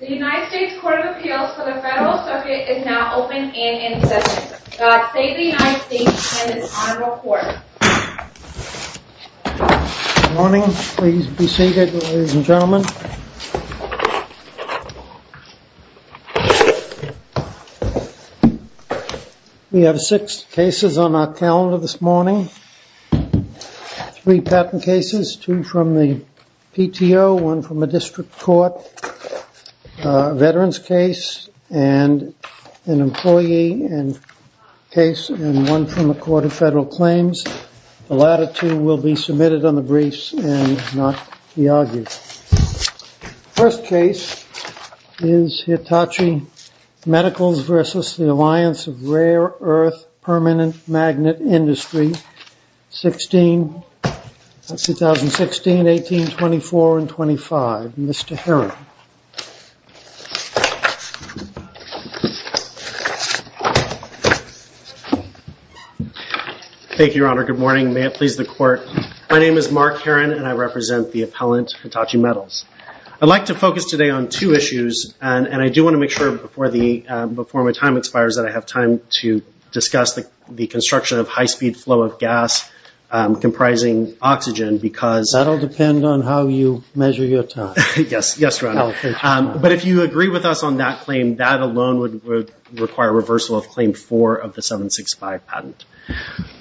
The United States Court of Appeals for the Federal Circuit is now open and in session. The state of the United States is on record. Good morning. Please be seated, ladies and gentlemen. We have six cases on our calendar this morning. Three patent cases, two from the PTO, one from a district court, a veterans case, and an employee case, and one from the Court of Federal Claims. The latter two will be submitted on the briefs and not be argued. The first case is Hitachi Medicals v. The Alliance of Rare-Earth Permanent Magnet Industry, 2016, 18, 24, and 25. Mr. Herron. Thank you, Your Honor. Good morning. May it please the Court. My name is Mark Herron, and I represent the appellant Hitachi Metals. I'd like to focus today on two issues, and I do want to make sure before my time expires that I have time to discuss the construction of high-speed flow of gas comprising oxygen because— That will depend on how you measure your time. Yes, Your Honor. Okay. But if you agree with us on that claim, that alone would require reversal of Claim 4 of the 765 patent.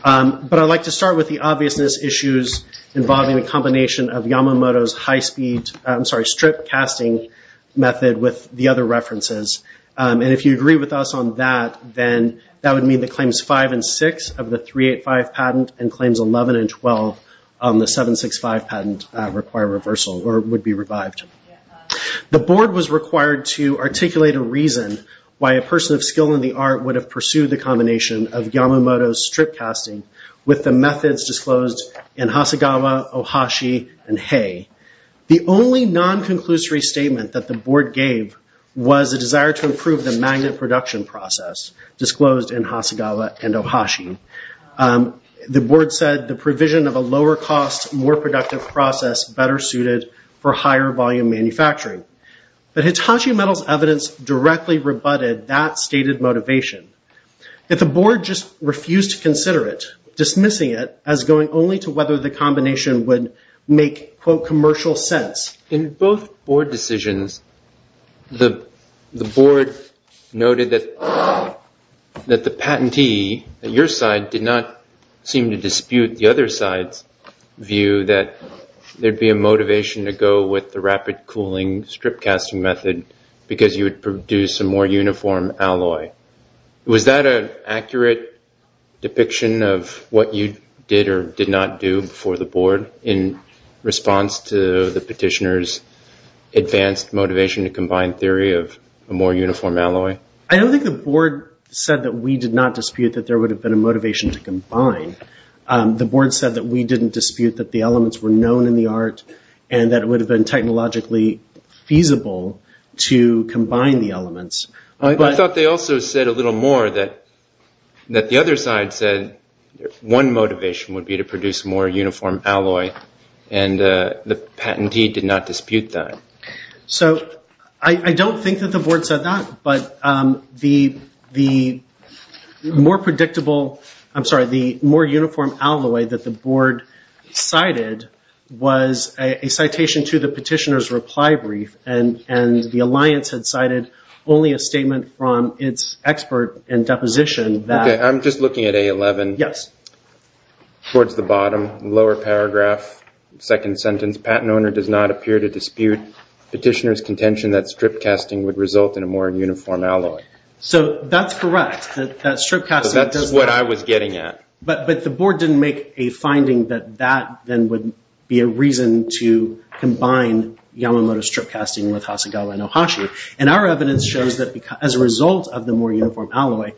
But I'd like to start with the obviousness issues involving the combination of Yamamoto's high-speed—I'm sorry, strip-casting method with the other references. And if you agree with us on that, then that would mean that Claims 5 and 6 of the 385 patent and Claims 11 and 12 on the 765 patent require reversal or would be revived. The Board was required to articulate a reason why a person of skill in the art would have pursued the combination of Yamamoto's strip-casting with the methods disclosed in Hasegawa, Ohashi, and Hay. The only non-conclusory statement that the Board gave was a desire to improve the magnet production process disclosed in Hasegawa and Ohashi. The Board said the provision of a lower-cost, more productive process better suited for higher-volume manufacturing. But Hitachi Metal's evidence directly rebutted that stated motivation. Yet the Board just refused to consider it, dismissing it as going only to whether the combination would make, quote, commercial sense. In both Board decisions, the Board noted that the patentee at your side did not seem to dispute the other side's view that there'd be a motivation to go with the rapid-cooling strip-casting method because you would produce a more uniform alloy. Was that an accurate depiction of what you did or did not do for the Board in response to the petitioner's advanced motivation to combine theory of a more uniform alloy? I don't think the Board said that we did not dispute that there would have been a motivation to combine. The Board said that we didn't dispute that the elements were known in the art and that it would have been technologically feasible to combine the elements. I thought they also said a little more, that the other side said one motivation would be to produce a more uniform alloy, and the patentee did not dispute that. I don't think that the Board said that, but the more uniform alloy that the Board cited was a citation to the petitioner's reply brief, and the Alliance had cited only a statement from its expert in deposition. I'm just looking at A11. Yes. The petitioner's contention that strip-casting would result in a more uniform alloy. That's correct. That's what I was getting at. But the Board didn't make a finding that that then would be a reason to combine Yamamoto strip-casting with Hasegawa and Ohashi. Our evidence shows that as a result of the more uniform alloy,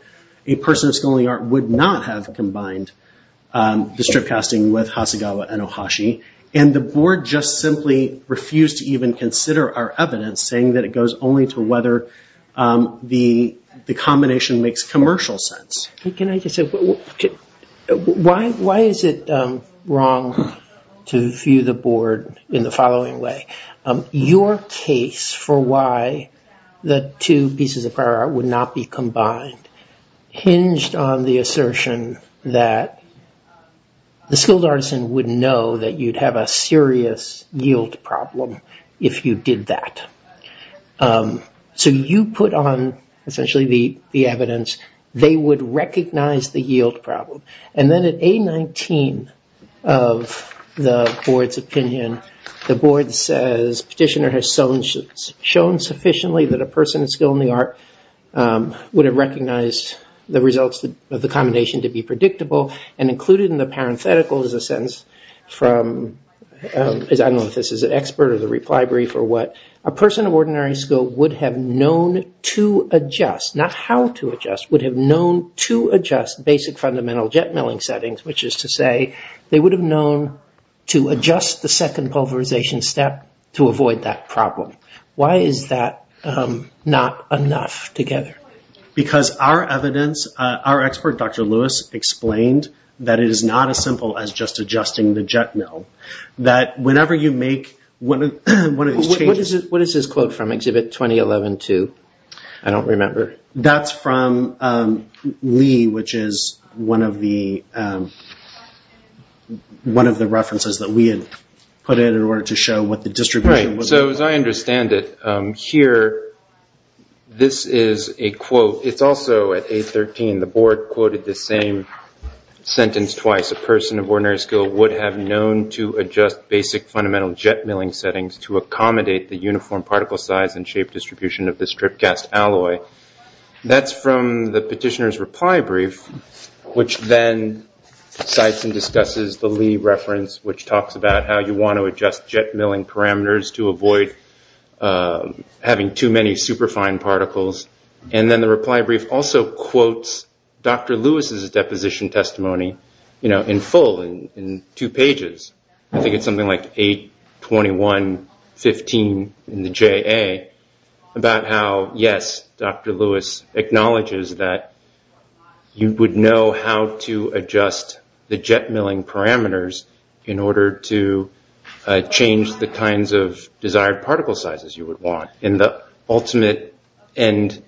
a person of scholarly art would not have combined the strip-casting with Hasegawa and Ohashi. The Board just simply refused to even consider our evidence, saying that it goes only to whether the combination makes commercial sense. Can I just say, why is it wrong to view the Board in the following way? Your case for why the two pieces of prior art would not be combined hinged on the assertion that the skilled artisan would know that you'd have a serious yield problem if you did that. So you put on, essentially, the evidence. They would recognize the yield problem. And then at A19 of the Board's opinion, the Board says, petitioner has shown sufficiently that a person of skill in the art would have recognized the results of the combination to be predictable, and included in the parenthetical is a sentence from, I don't know if this is an expert or the reply brief or what, a person of ordinary skill would have known to adjust, not how to adjust, would have known to adjust basic fundamental jet milling settings, which is to say they would have known to adjust the second pulverization step to avoid that problem. Why is that not enough together? Because our evidence, our expert, Dr. Lewis, explained that it is not as simple as just adjusting the jet mill. That whenever you make one of these changes. What is this quote from, exhibit 2011-2? I don't remember. That's from Lee, which is one of the references that we had put in in order to show what the distribution was. Right. So as I understand it, here, this is a quote. It's also at A13. The board quoted the same sentence twice. A person of ordinary skill would have known to adjust basic fundamental jet milling settings to accommodate the uniform particle size and shape distribution of the strip gas alloy. That's from the petitioner's reply brief, which then cites and discusses the Lee reference, which talks about how you want to adjust jet milling parameters to avoid having too many superfine particles. And then the reply brief also quotes Dr. Lewis's deposition testimony in full, in two pages. I think it's something like A21-15 in the JA, about how, yes, Dr. Lewis acknowledges that you would know how to adjust the jet milling parameters in order to change the kinds of desired particle sizes you would want. In the ultimate end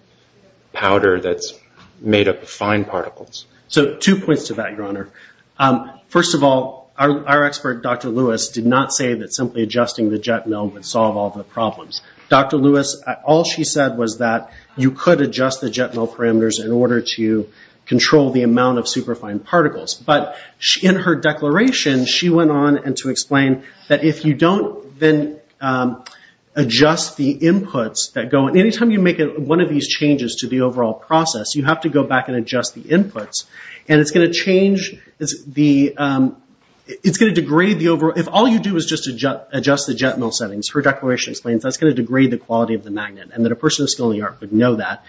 powder that's made up of fine particles. So two points to that, Your Honor. First of all, our expert, Dr. Lewis, did not say that simply adjusting the jet mill would solve all the problems. Dr. Lewis, all she said was that you could adjust the jet mill parameters in order to control the amount of superfine particles. But in her declaration, she went on to explain that if you don't adjust the inputs, any time you make one of these changes to the overall process, you have to go back and adjust the inputs. And it's going to change, it's going to degrade the overall, if all you do is just adjust the jet mill settings, her declaration explains, that's going to degrade the quality of the magnet. And that a person with a skill in the art would know that.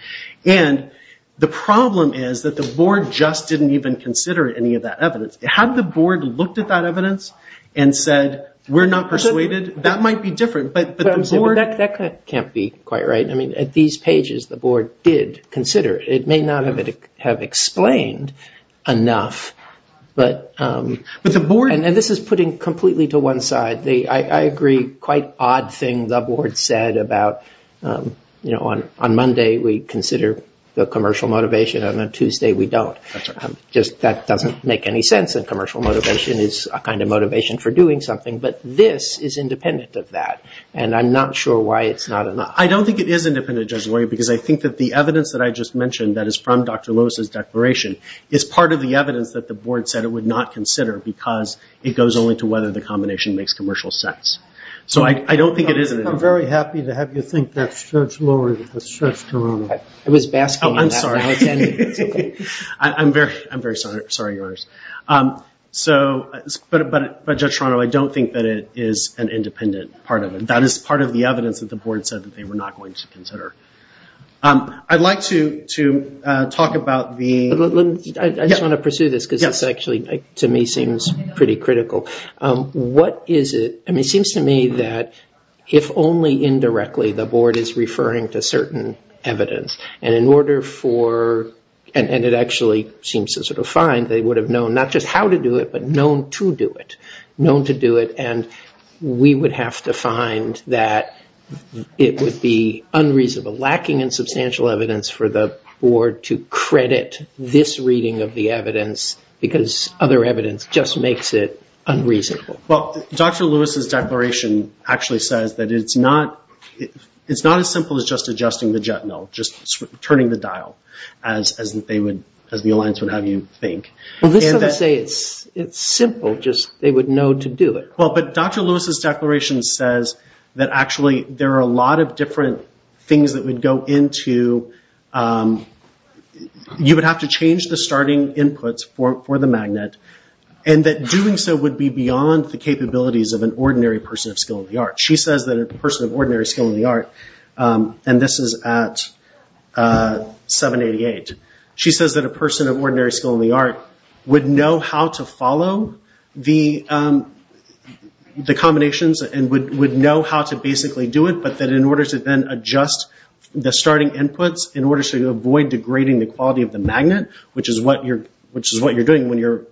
And the problem is that the board just didn't even consider any of that evidence. Had the board looked at that evidence and said, we're not persuaded, that might be different. That can't be quite right. I mean, at these pages, the board did consider it. It may not have explained enough. And this is putting completely to one side. I agree, quite odd thing the board said about, you know, on Monday we consider the commercial motivation and on Tuesday we don't. That doesn't make any sense. And commercial motivation is a kind of motivation for doing something. But this is independent of that. And I'm not sure why it's not enough. I don't think it is independent, Judge Loyer, because I think that the evidence that I just mentioned that is from Dr. Lewis' declaration is part of the evidence that the board said it would not consider because it goes only to whether the combination makes commercial sense. So I don't think it is. I'm very happy to have you think that, Judge Loyer, that's Judge Toronto. It was Baskin. I'm sorry. I'm very sorry, Your Honors. But, Judge Toronto, I don't think that it is an independent part of it. That is part of the evidence that the board said that they were not going to consider. I'd like to talk about the... I just want to pursue this because this actually, to me, seems pretty critical. What is it? I mean, it seems to me that if only indirectly the board is referring to certain evidence and in order for, and it actually seems to sort of find, they would have known not just how to do it but known to do it, known to do it, and we would have to find that it would be unreasonable, lacking in substantial evidence, for the board to credit this reading of the evidence because other evidence just makes it unreasonable. Well, Dr. Lewis' declaration actually says that it's not as simple as just adjusting the jet no, just turning the dial as the alliance would have you think. Well, this doesn't say it's simple, just they would know to do it. Well, but Dr. Lewis' declaration says that actually there are a lot of different things that would go into... You would have to change the starting inputs for the magnet and that doing so would be beyond the capabilities of an ordinary person of skill in the art. She says that a person of ordinary skill in the art, and this is at 788, she says that a person of ordinary skill in the art would know how to follow the combinations and would know how to basically do it but that in order to then adjust the starting inputs in order to avoid degrading the quality of the magnet, which is what you're doing when your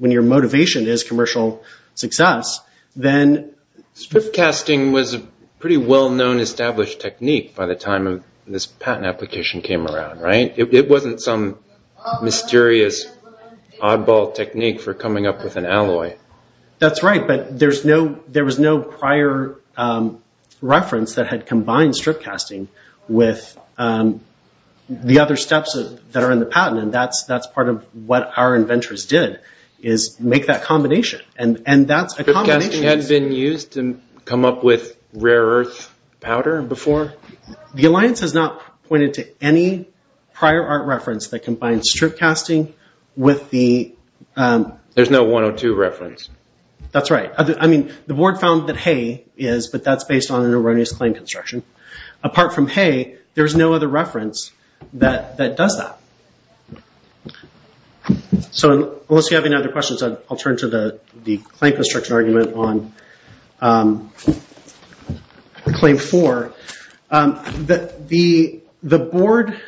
motivation is commercial success, then... Strip casting was a pretty well-known established technique by the time this patent application came around, right? It wasn't some mysterious oddball technique for coming up with an alloy. That's right, but there was no prior reference that had combined strip casting with the other steps that are in the patent and that's part of what our inventors did is make that combination and that's a combination... Strip casting had been used to come up with rare earth powder before? The alliance has not pointed to any prior art reference that combines strip casting with the... There's no 102 reference. That's right. I mean, the board found that hay is, but that's based on an erroneous claim construction. Apart from hay, there's no other reference that does that. So unless you have any other questions, I'll turn to the claim construction argument on claim four. The board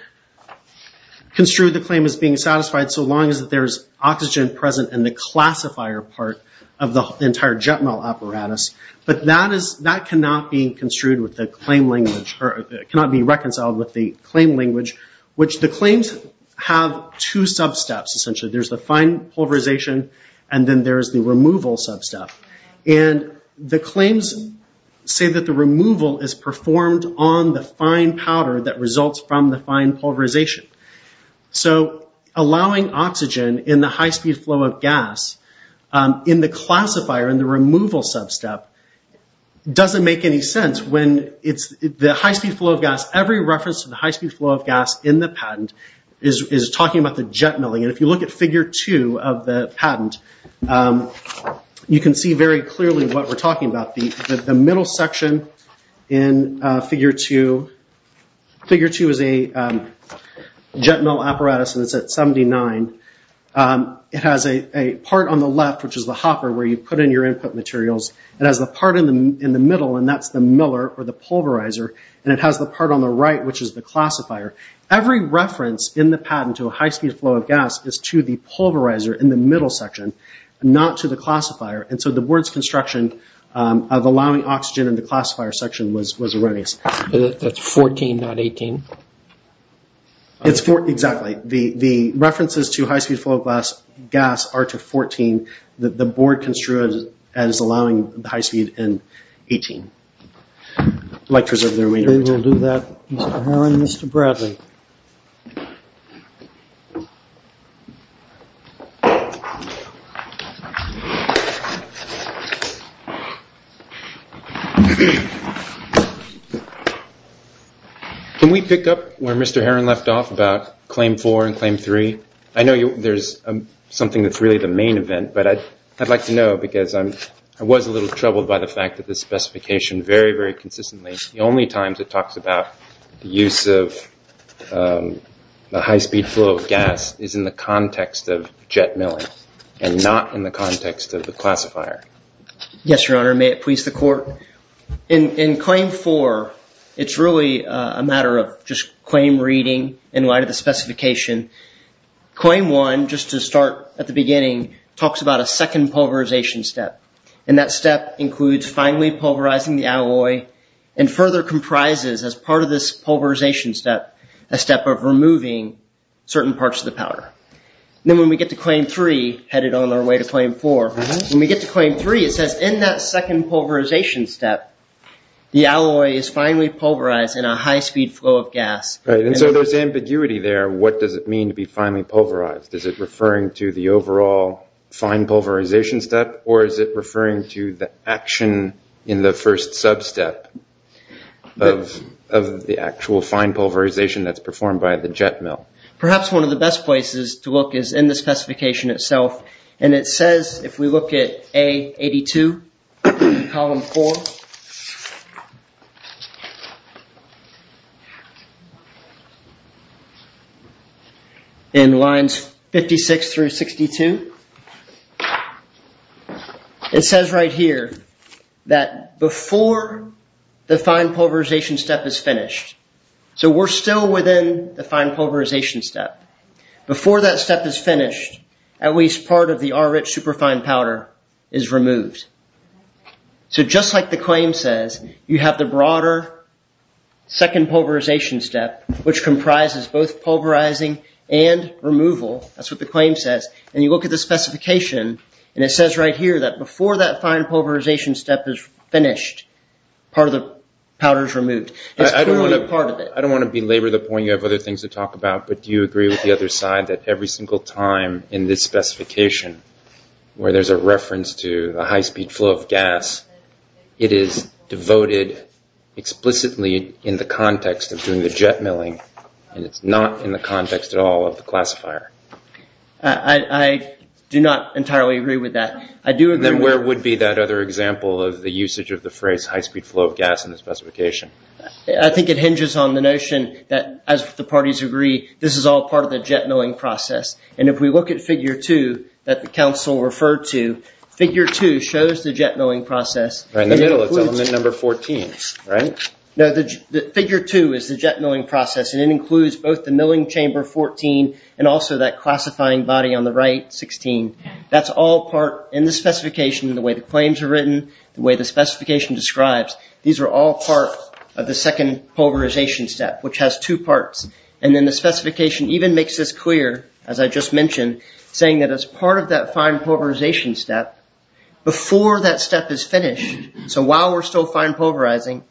construed the claim as being satisfied so long as there's oxygen present in the classifier part of the entire jet melt apparatus, but that cannot be reconciled with the claim language, which the claims have two sub-steps, essentially. There's the fine pulverization and then there's the removal sub-step. The claims say that the removal is performed on the fine powder that results from the fine pulverization. So allowing oxygen in the high-speed flow of gas in the classifier, in the removal sub-step, doesn't make any sense. The high-speed flow of gas, every reference to the high-speed flow of gas in the patent is talking about the jet milling. If you look at figure two of the patent, you can see very clearly what we're talking about. The middle section in figure two is a jet mill apparatus, and it's at 79. It has a part on the left, which is the hopper, where you put in your input materials. It has the part in the middle, and that's the miller, or the pulverizer, and it has the part on the right, which is the classifier. Every reference in the patent to a high-speed flow of gas is to the pulverizer in the middle section, not to the classifier. And so the board's construction of allowing oxygen in the classifier section was erroneous. That's 14, not 18? Exactly. The references to high-speed flow of gas are to 14. The board construed as allowing the high-speed in 18. I'd like to reserve the remainder of the time. We will do that, Mr. Herron, Mr. Bradley. Can we pick up where Mr. Herron left off about claim four and claim three? I know there's something that's really the main event, but I'd like to know, because I was a little troubled by the fact that the specification very, very consistently, the only times it talks about the use of a high-speed flow of gas is in the context of jet milling and not in the context of the classifier. Yes, Your Honor, and may it please the Court. In claim four, it's really a matter of just claim reading in light of the specification. Claim one, just to start at the beginning, talks about a second pulverization step, and that step includes finally pulverizing the alloy and further comprises, as part of this pulverization step, a step of removing certain parts of the powder. Then when we get to claim three, headed on our way to claim four, when we get to claim three, it says in that second pulverization step, the alloy is finally pulverized in a high-speed flow of gas. Right, and so there's ambiguity there. What does it mean to be finally pulverized? Is it referring to the overall fine pulverization step, or is it referring to the action in the first sub-step of the actual fine pulverization that's performed by the jet mill? Perhaps one of the best places to look is in the specification itself, and it says, if we look at A82, column four, in lines 56 through 62, it says right here that before the fine pulverization step is finished, so we're still within the fine pulverization step, before that step is finished, at least part of the R-rich superfine powder is removed. So just like the claim says, you have the broader second pulverization step, which comprises both pulverizing and removal, that's what the claim says, and you look at the specification, and it says right here that before that fine pulverization step is finished, part of the powder is removed. I don't want to belabor the point you have other things to talk about, but do you agree with the other side, that every single time in this specification, where there's a reference to the high-speed flow of gas, it is devoted explicitly in the context of doing the jet milling, and it's not in the context at all of the classifier? I do not entirely agree with that. Then where would be that other example of the usage of the phrase high-speed flow of gas in the specification? I think it hinges on the notion that, as the parties agree, this is all part of the jet milling process, and if we look at figure two that the counsel referred to, figure two shows the jet milling process. Right in the middle, it's element number 14, right? No, figure two is the jet milling process, and it includes both the milling chamber 14 and also that classifying body on the right, 16. That's all part in the specification, the way the claims are written, the way the specification describes. These are all part of the second pulverization step, which has two parts, and then the specification even makes this clear, as I just mentioned, saying that as part of that fine pulverization step, before that step is finished, so while we're still fine pulverizing,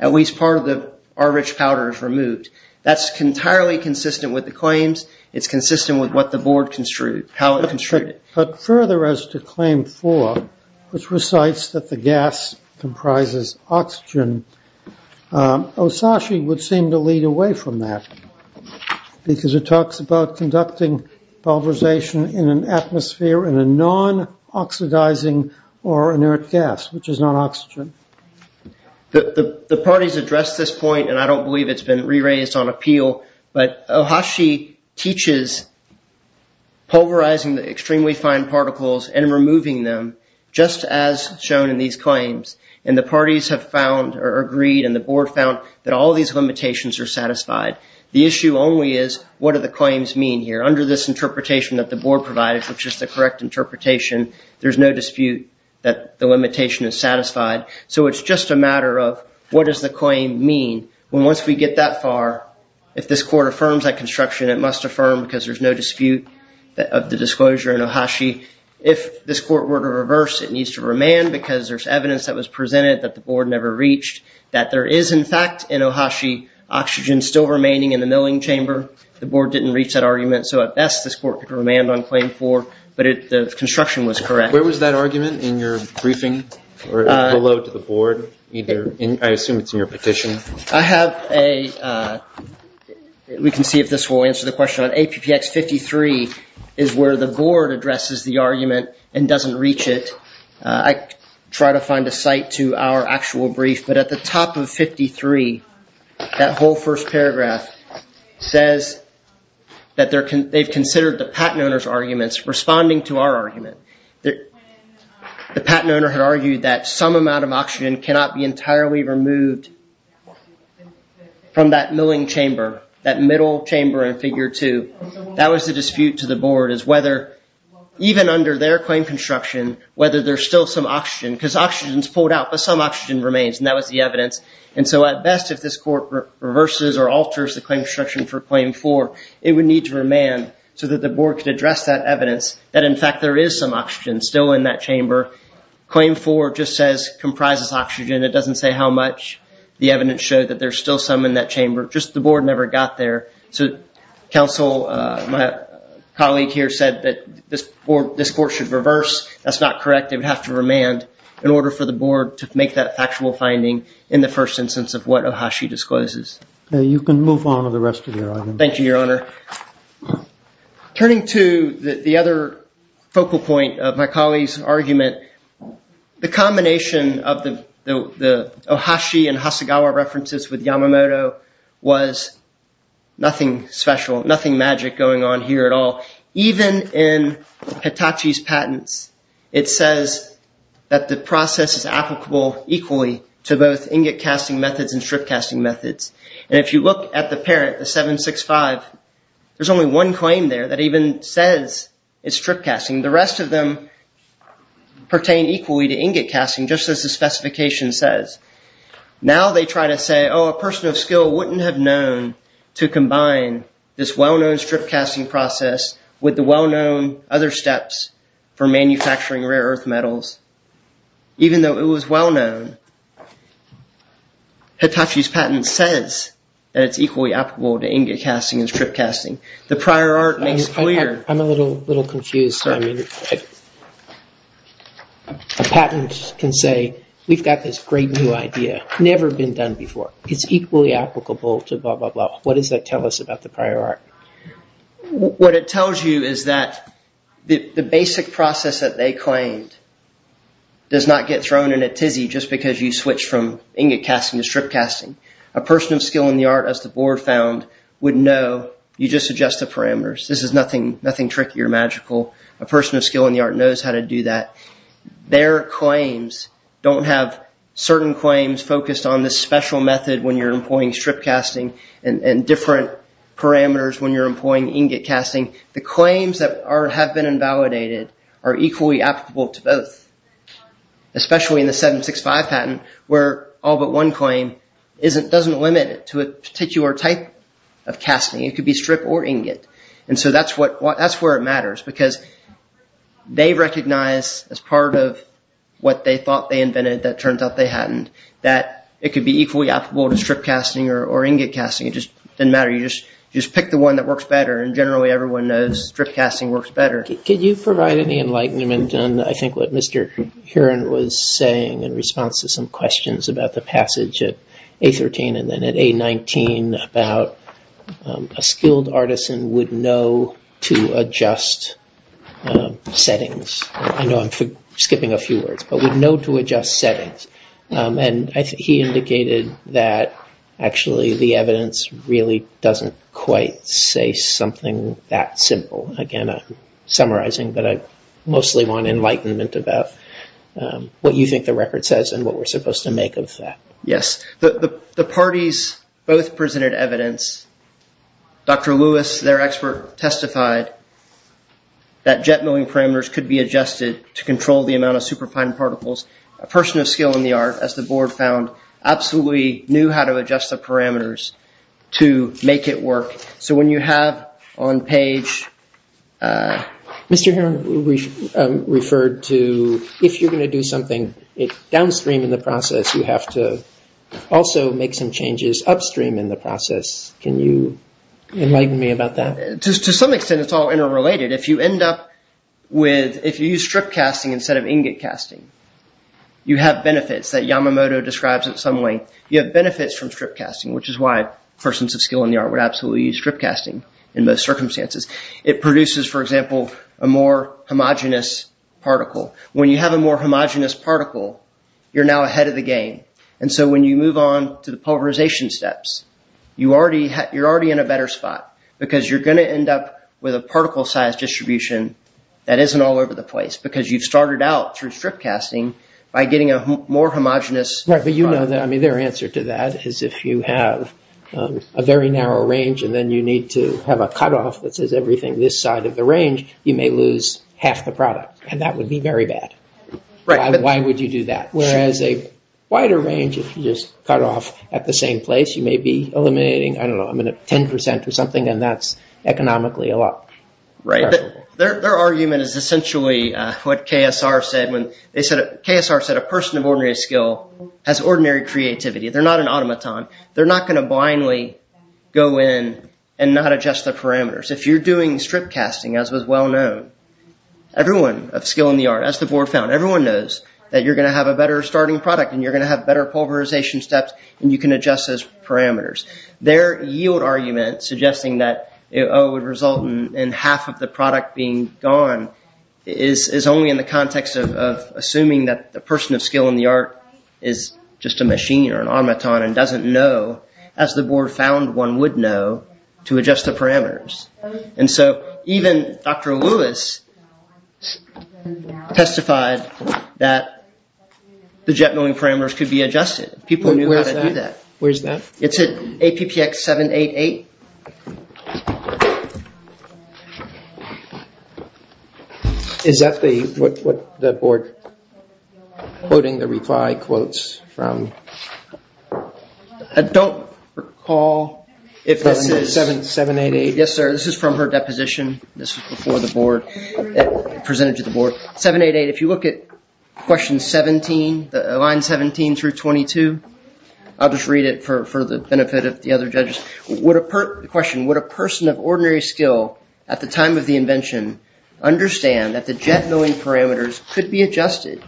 at least part of the R-rich powder is removed. That's entirely consistent with the claims. It's consistent with what the board construed, how it construed it. But further, as to claim four, which recites that the gas comprises oxygen, Ohashi would seem to lead away from that because it talks about conducting pulverization in an atmosphere in a non-oxidizing or inert gas, which is not oxygen. The parties addressed this point, and I don't believe it's been re-raised on appeal, but Ohashi teaches pulverizing the extremely fine particles and removing them, just as shown in these claims. And the parties have found, or agreed, and the board found, that all these limitations are satisfied. The issue only is, what do the claims mean here? Under this interpretation that the board provided, which is the correct interpretation, there's no dispute that the limitation is satisfied. So it's just a matter of, what does the claim mean? Once we get that far, if this court affirms that construction, it must affirm because there's no dispute of the disclosure in Ohashi. If this court were to reverse, it needs to remand because there's evidence that was presented that the board never reached, that there is, in fact, in Ohashi, oxygen still remaining in the milling chamber. The board didn't reach that argument. So at best, this court could remand on claim four, but the construction was correct. Where was that argument in your briefing or below to the board? I assume it's in your petition. I have a ‑‑ we can see if this will answer the question. On APPX 53 is where the board addresses the argument and doesn't reach it. I try to find a site to our actual brief, but at the top of 53, that whole first paragraph says that they've considered the patent owner's arguments responding to our argument. The patent owner had argued that some amount of oxygen cannot be entirely removed from that milling chamber, that middle chamber in figure two. That was the dispute to the board as whether, even under their claim construction, whether there's still some oxygen because oxygen is pulled out, but some oxygen remains, and that was the evidence. And so at best, if this court reverses or alters the claim construction for claim four, it would need to remand so that the board could address that evidence that, in fact, there is some oxygen still in that chamber. Claim four just says comprises oxygen. It doesn't say how much. The evidence showed that there's still some in that chamber. Just the board never got there. So counsel, my colleague here said that this court should reverse. That's not correct. It would have to remand in order for the board to make that factual finding in the first instance of what Ohashi discloses. You can move on with the rest of your argument. Thank you, Your Honor. Turning to the other focal point of my colleague's argument, the combination of the Ohashi and Hasegawa references with Yamamoto was nothing special, nothing magic going on here at all. Even in Hitachi's patents, it says that the process is applicable equally to both ingot casting methods and strip casting methods. And if you look at the parent, the 765, there's only one claim there that even says it's strip casting. The rest of them pertain equally to ingot casting, just as the specification says. Now they try to say, oh, a person of skill wouldn't have known to combine this well-known strip casting process with the well-known other steps for manufacturing rare earth metals, even though it was well-known. Hitachi's patent says that it's equally applicable to ingot casting and strip casting. The prior art makes clear... I'm a little confused. A patent can say, we've got this great new idea, never been done before. It's equally applicable to blah, blah, blah. What does that tell us about the prior art? What it tells you is that the basic process that they claimed does not get thrown in a tizzy just because you switch from ingot casting to strip casting. A person of skill in the art, as the board found, would know, you just adjust the parameters. This is nothing tricky or magical. A person of skill in the art knows how to do that. Their claims don't have certain claims focused on this special method when you're employing strip casting and different parameters when you're employing ingot casting. The claims that have been invalidated are equally applicable to both, especially in the 765 patent where all but one claim doesn't limit it to a particular type of casting. It could be strip or ingot. That's where it matters because they recognize, as part of what they thought they invented that turns out they hadn't, that it could be equally applicable to strip casting or ingot casting. It doesn't matter. You just pick the one that works better. Generally, everyone knows strip casting works better. Mark, could you provide any enlightenment on, I think, what Mr. Heron was saying in response to some questions about the passage at A13 and then at A19 about a skilled artisan would know to adjust settings. I know I'm skipping a few words, but would know to adjust settings. He indicated that actually the evidence really doesn't quite say something that simple. Again, I'm summarizing, but I mostly want enlightenment about what you think the record says and what we're supposed to make of that. Yes. The parties both presented evidence. Dr. Lewis, their expert, testified that jet milling parameters could be adjusted to control the amount of superfine particles. A person of skill in the art, as the board found, absolutely knew how to adjust the parameters to make it work. When you have on page… Mr. Heron referred to if you're going to do something downstream in the process, you have to also make some changes upstream in the process. Can you enlighten me about that? To some extent, it's all interrelated. If you use strip casting instead of ingot casting, you have benefits that Yamamoto describes in some way. You have benefits from strip casting, which is why persons of skill in the art would absolutely use strip casting in most circumstances. It produces, for example, a more homogenous particle. When you have a more homogenous particle, you're now ahead of the game. When you move on to the pulverization steps, you're already in a better spot because you're going to end up with a particle size distribution that isn't all over the place because you've started out through strip casting by getting a more homogenous… Their answer to that is if you have a very narrow range and then you need to have a cutoff that says everything this side of the range, you may lose half the product. That would be very bad. Why would you do that? Whereas a wider range, if you just cut off at the same place, you may be eliminating, I don't know, 10% or something, and that's economically a lot. Their argument is essentially what KSR said. KSR said a person of ordinary skill has ordinary creativity. They're not an automaton. They're not going to blindly go in and not adjust their parameters. If you're doing strip casting, as was well known, everyone of skill in the art, as the board found, everyone knows that you're going to have a better starting product and you're going to have better pulverization steps and you can adjust those parameters. Their yield argument suggesting that it would result in half of the product being gone is only in the context of assuming that the person of skill in the art is just a machine or an automaton and doesn't know, as the board found one would know, to adjust the parameters. And so even Dr. Lewis testified that the jet milling parameters could be adjusted. People knew how to do that. Where's that? It's at APPX 788. Is that the board quoting the reply quotes from? I don't recall if this is 788. Yes, sir. This is from her deposition. This was before the board, presented to the board. 788, if you look at question 17, line 17 through 22, I'll just read it for the benefit of the other judges. The question, would a person of ordinary skill at the time of the invention understand that the jet milling parameters could be adjusted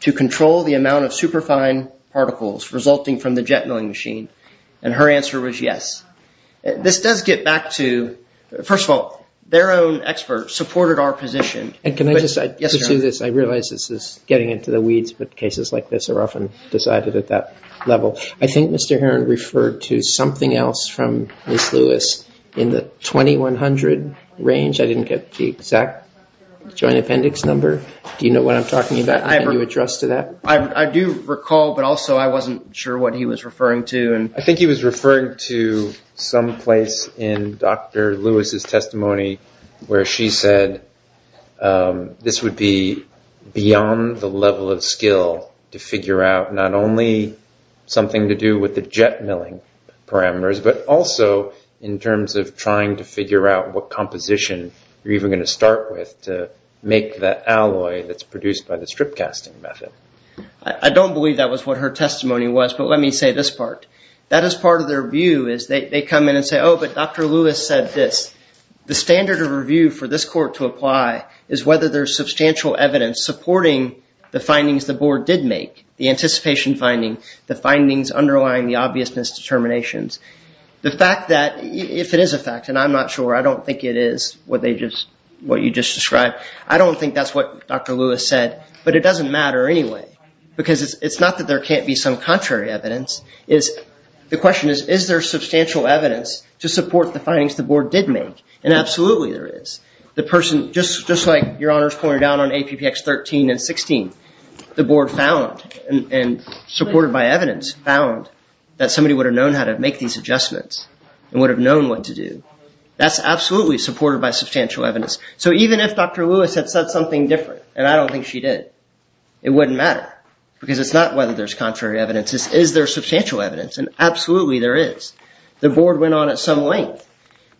to control the amount of superfine particles resulting from the jet milling machine? And her answer was yes. This does get back to, first of all, their own experts supported our position. Can I just say, I realize this is getting into the weeds, but cases like this are often decided at that level. I think Mr. Heron referred to something else from Ms. Lewis in the 2100 range. I didn't get the exact joint appendix number. Do you know what I'm talking about? Can you address to that? I do recall, but also I wasn't sure what he was referring to. I think he was referring to some place in Dr. Lewis' testimony where she said this would be beyond the level of skill to figure out not only something to do with the jet milling parameters, but also in terms of trying to figure out what composition you're even going to start with to make that alloy that's produced by the strip casting method. I don't believe that was what her testimony was, but let me say this part. That is part of their view is they come in and say, oh, but Dr. Lewis said this. The standard of review for this court to apply is whether there's substantial evidence supporting the findings the board did make, the anticipation finding, the findings underlying the obviousness determinations. The fact that if it is a fact, and I'm not sure. I don't think it is what you just described. I don't think that's what Dr. Lewis said, but it doesn't matter anyway because it's not that there can't be some contrary evidence. The question is, is there substantial evidence to support the findings the board did make? Absolutely there is. The person, just like Your Honors pointed out on APPX 13 and 16, the board found and supported by evidence, found that somebody would have known how to make these adjustments and would have known what to do. That's absolutely supported by substantial evidence. So even if Dr. Lewis had said something different, and I don't think she did, it wouldn't matter because it's not whether there's contrary evidence. Is there substantial evidence? Absolutely there is. The board went on at some length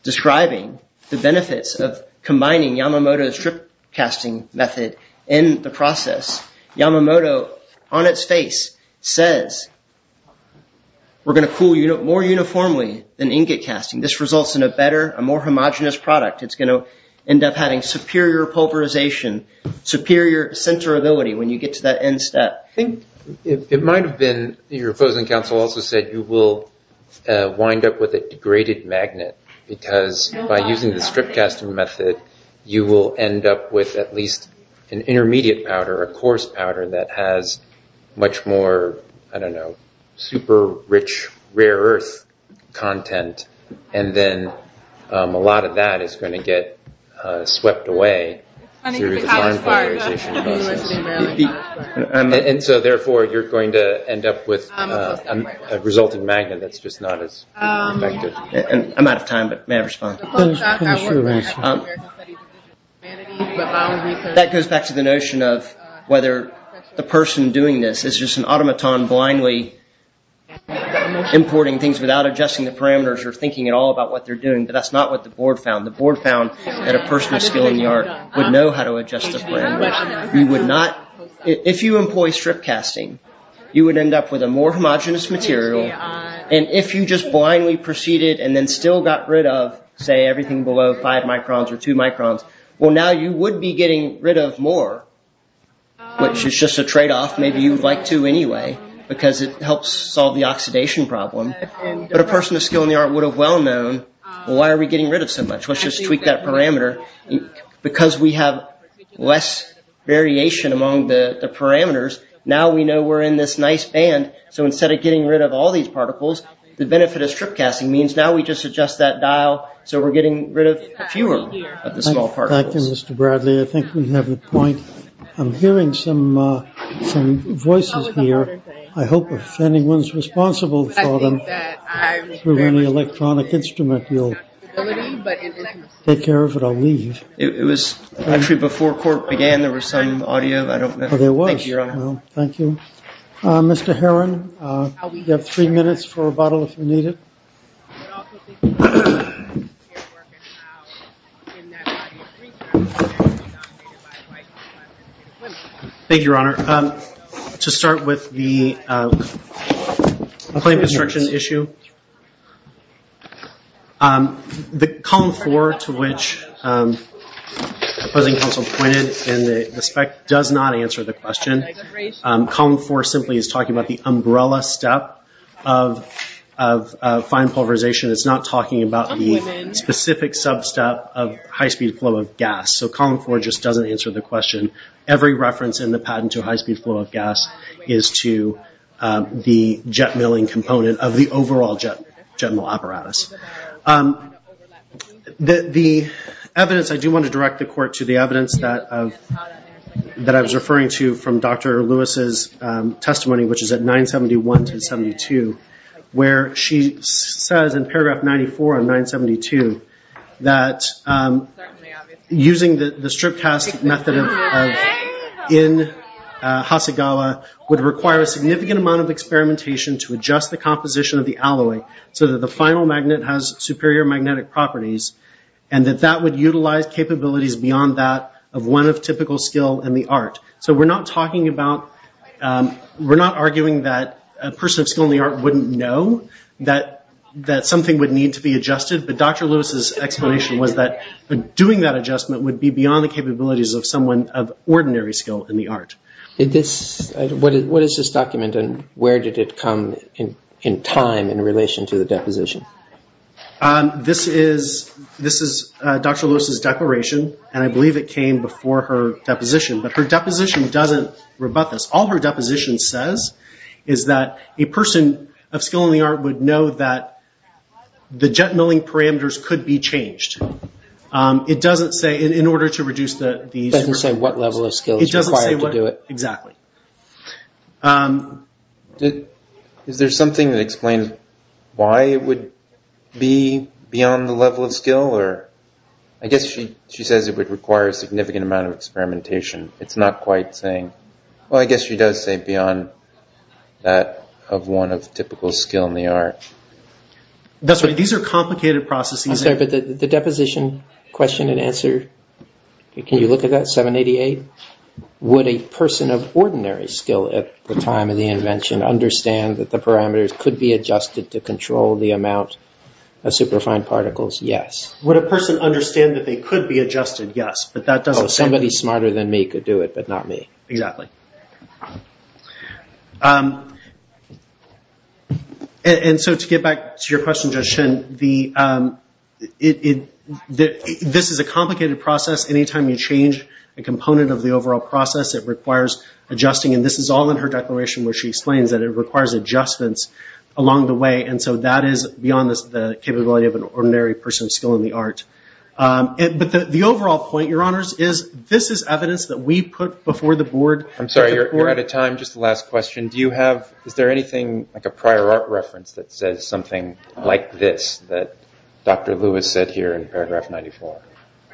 describing the benefits of combining Yamamoto's strip casting method in the process. Yamamoto, on its face, says, we're going to cool more uniformly than ingot casting. This results in a better, a more homogenous product. It's going to end up having superior pulverization, superior centerability when you get to that end step. Your opposing counsel also said you will wind up with a degraded magnet because by using the strip casting method, you will end up with at least an intermediate powder, a coarse powder that has much more, I don't know, super rich rare earth content. And then a lot of that is going to get swept away through the polymerization process. And so therefore, you're going to end up with a resulting magnet that's just not as effective. I'm out of time, but may I respond? That goes back to the notion of whether the person doing this is just an automaton blindly importing things without adjusting the parameters or thinking at all about what they're doing, but that's not what the board found. The board found that a person with skill in the art would know how to adjust the frame. You would not, if you employ strip casting, you would end up with a more homogenous material. And if you just blindly proceeded and then still got rid of, say, everything below five microns or two microns, well, now you would be getting rid of more, which is just a trade-off. Maybe you would like to anyway because it helps solve the oxidation problem. But a person with skill in the art would have well known, well, why are we getting rid of so much? Let's just tweak that parameter. Because we have less variation among the parameters, now we know we're in this nice band. So instead of getting rid of all these particles, the benefit of strip casting means now we just adjust that dial so we're getting rid of fewer of the small particles. Thank you, Mr. Bradley. I think we have a point. I'm hearing some voices here. I hope if anyone's responsible for them through any electronic instrument, we'll take care of it. I'll leave. It was actually before court began the reciting of the audio. There was. Thank you, Your Honor. Thank you. Mr. Herron, you have three minutes for rebuttal if you need it. Thank you, Your Honor. To start with the claim construction issue, the column four to which opposing counsel pointed in the spec does not answer the question. Column four simply is talking about the umbrella step of fine pulverization. It's not talking about the specific sub-step of high-speed flow of gas. Every reference in the patent to high-speed flow of gas is to the jet milling component of the overall jet mill apparatus. The evidence, I do want to direct the court to the evidence that I was referring to from Dr. Lewis' testimony, which is at 971 to 972, where she says in paragraph 94 on 972 that using the strip-cast method in Hasegawa would require a significant amount of experimentation to adjust the composition of the alloy so that the final magnet has superior magnetic properties, and that that would utilize capabilities beyond that of one of typical skill in the art. So we're not arguing that a person of skill in the art wouldn't know that something would need to be adjusted, but Dr. Lewis' explanation was that doing that adjustment would be beyond the capabilities of someone of ordinary skill in the art. What is this document, and where did it come in time in relation to the deposition? This is Dr. Lewis' declaration, and I believe it came before her deposition, but her deposition doesn't rebut this. All her deposition says is that a person of skill in the art would know that the jet milling parameters could be changed. It doesn't say in order to reduce the... It doesn't say what level of skill is required to do it. Exactly. Is there something that explains why it would be beyond the level of skill? I guess she says it would require a significant amount of experimentation. It's not quite saying. Well, I guess she does say beyond that of one of typical skill in the art. That's right. These are complicated processes. I'm sorry, but the deposition question and answer, can you look at that, 788? Would a person of ordinary skill at the time of the invention understand that the parameters could be adjusted to control the amount of superfine particles? Yes. Would a person understand that they could be adjusted? Yes. Somebody smarter than me could do it, but not me. Exactly. To get back to your question, Judge Shin, this is a complicated process. Anytime you change a component of the overall process, it requires adjusting, and this is all in her declaration where she explains that it requires adjustments along the way, and so that is beyond the capability of an ordinary person of skill in the art. But the overall point, Your Honors, is this is evidence that we put before the board. I'm sorry, you're out of time. Just the last question. Is there anything, like a prior art reference, that says something like this, that Dr. Lewis said here in paragraph 94?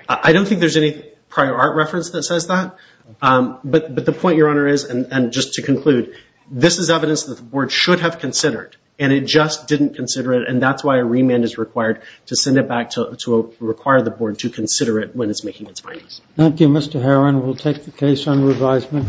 I don't think there's any prior art reference that says that. But the point, Your Honor, is, and just to conclude, this is evidence that the board should have considered, and it just didn't consider it, and that's why a remand is required to send it back to require the board to consider it when it's making its findings. Thank you, Mr. Herrin. We'll take the case on revisement.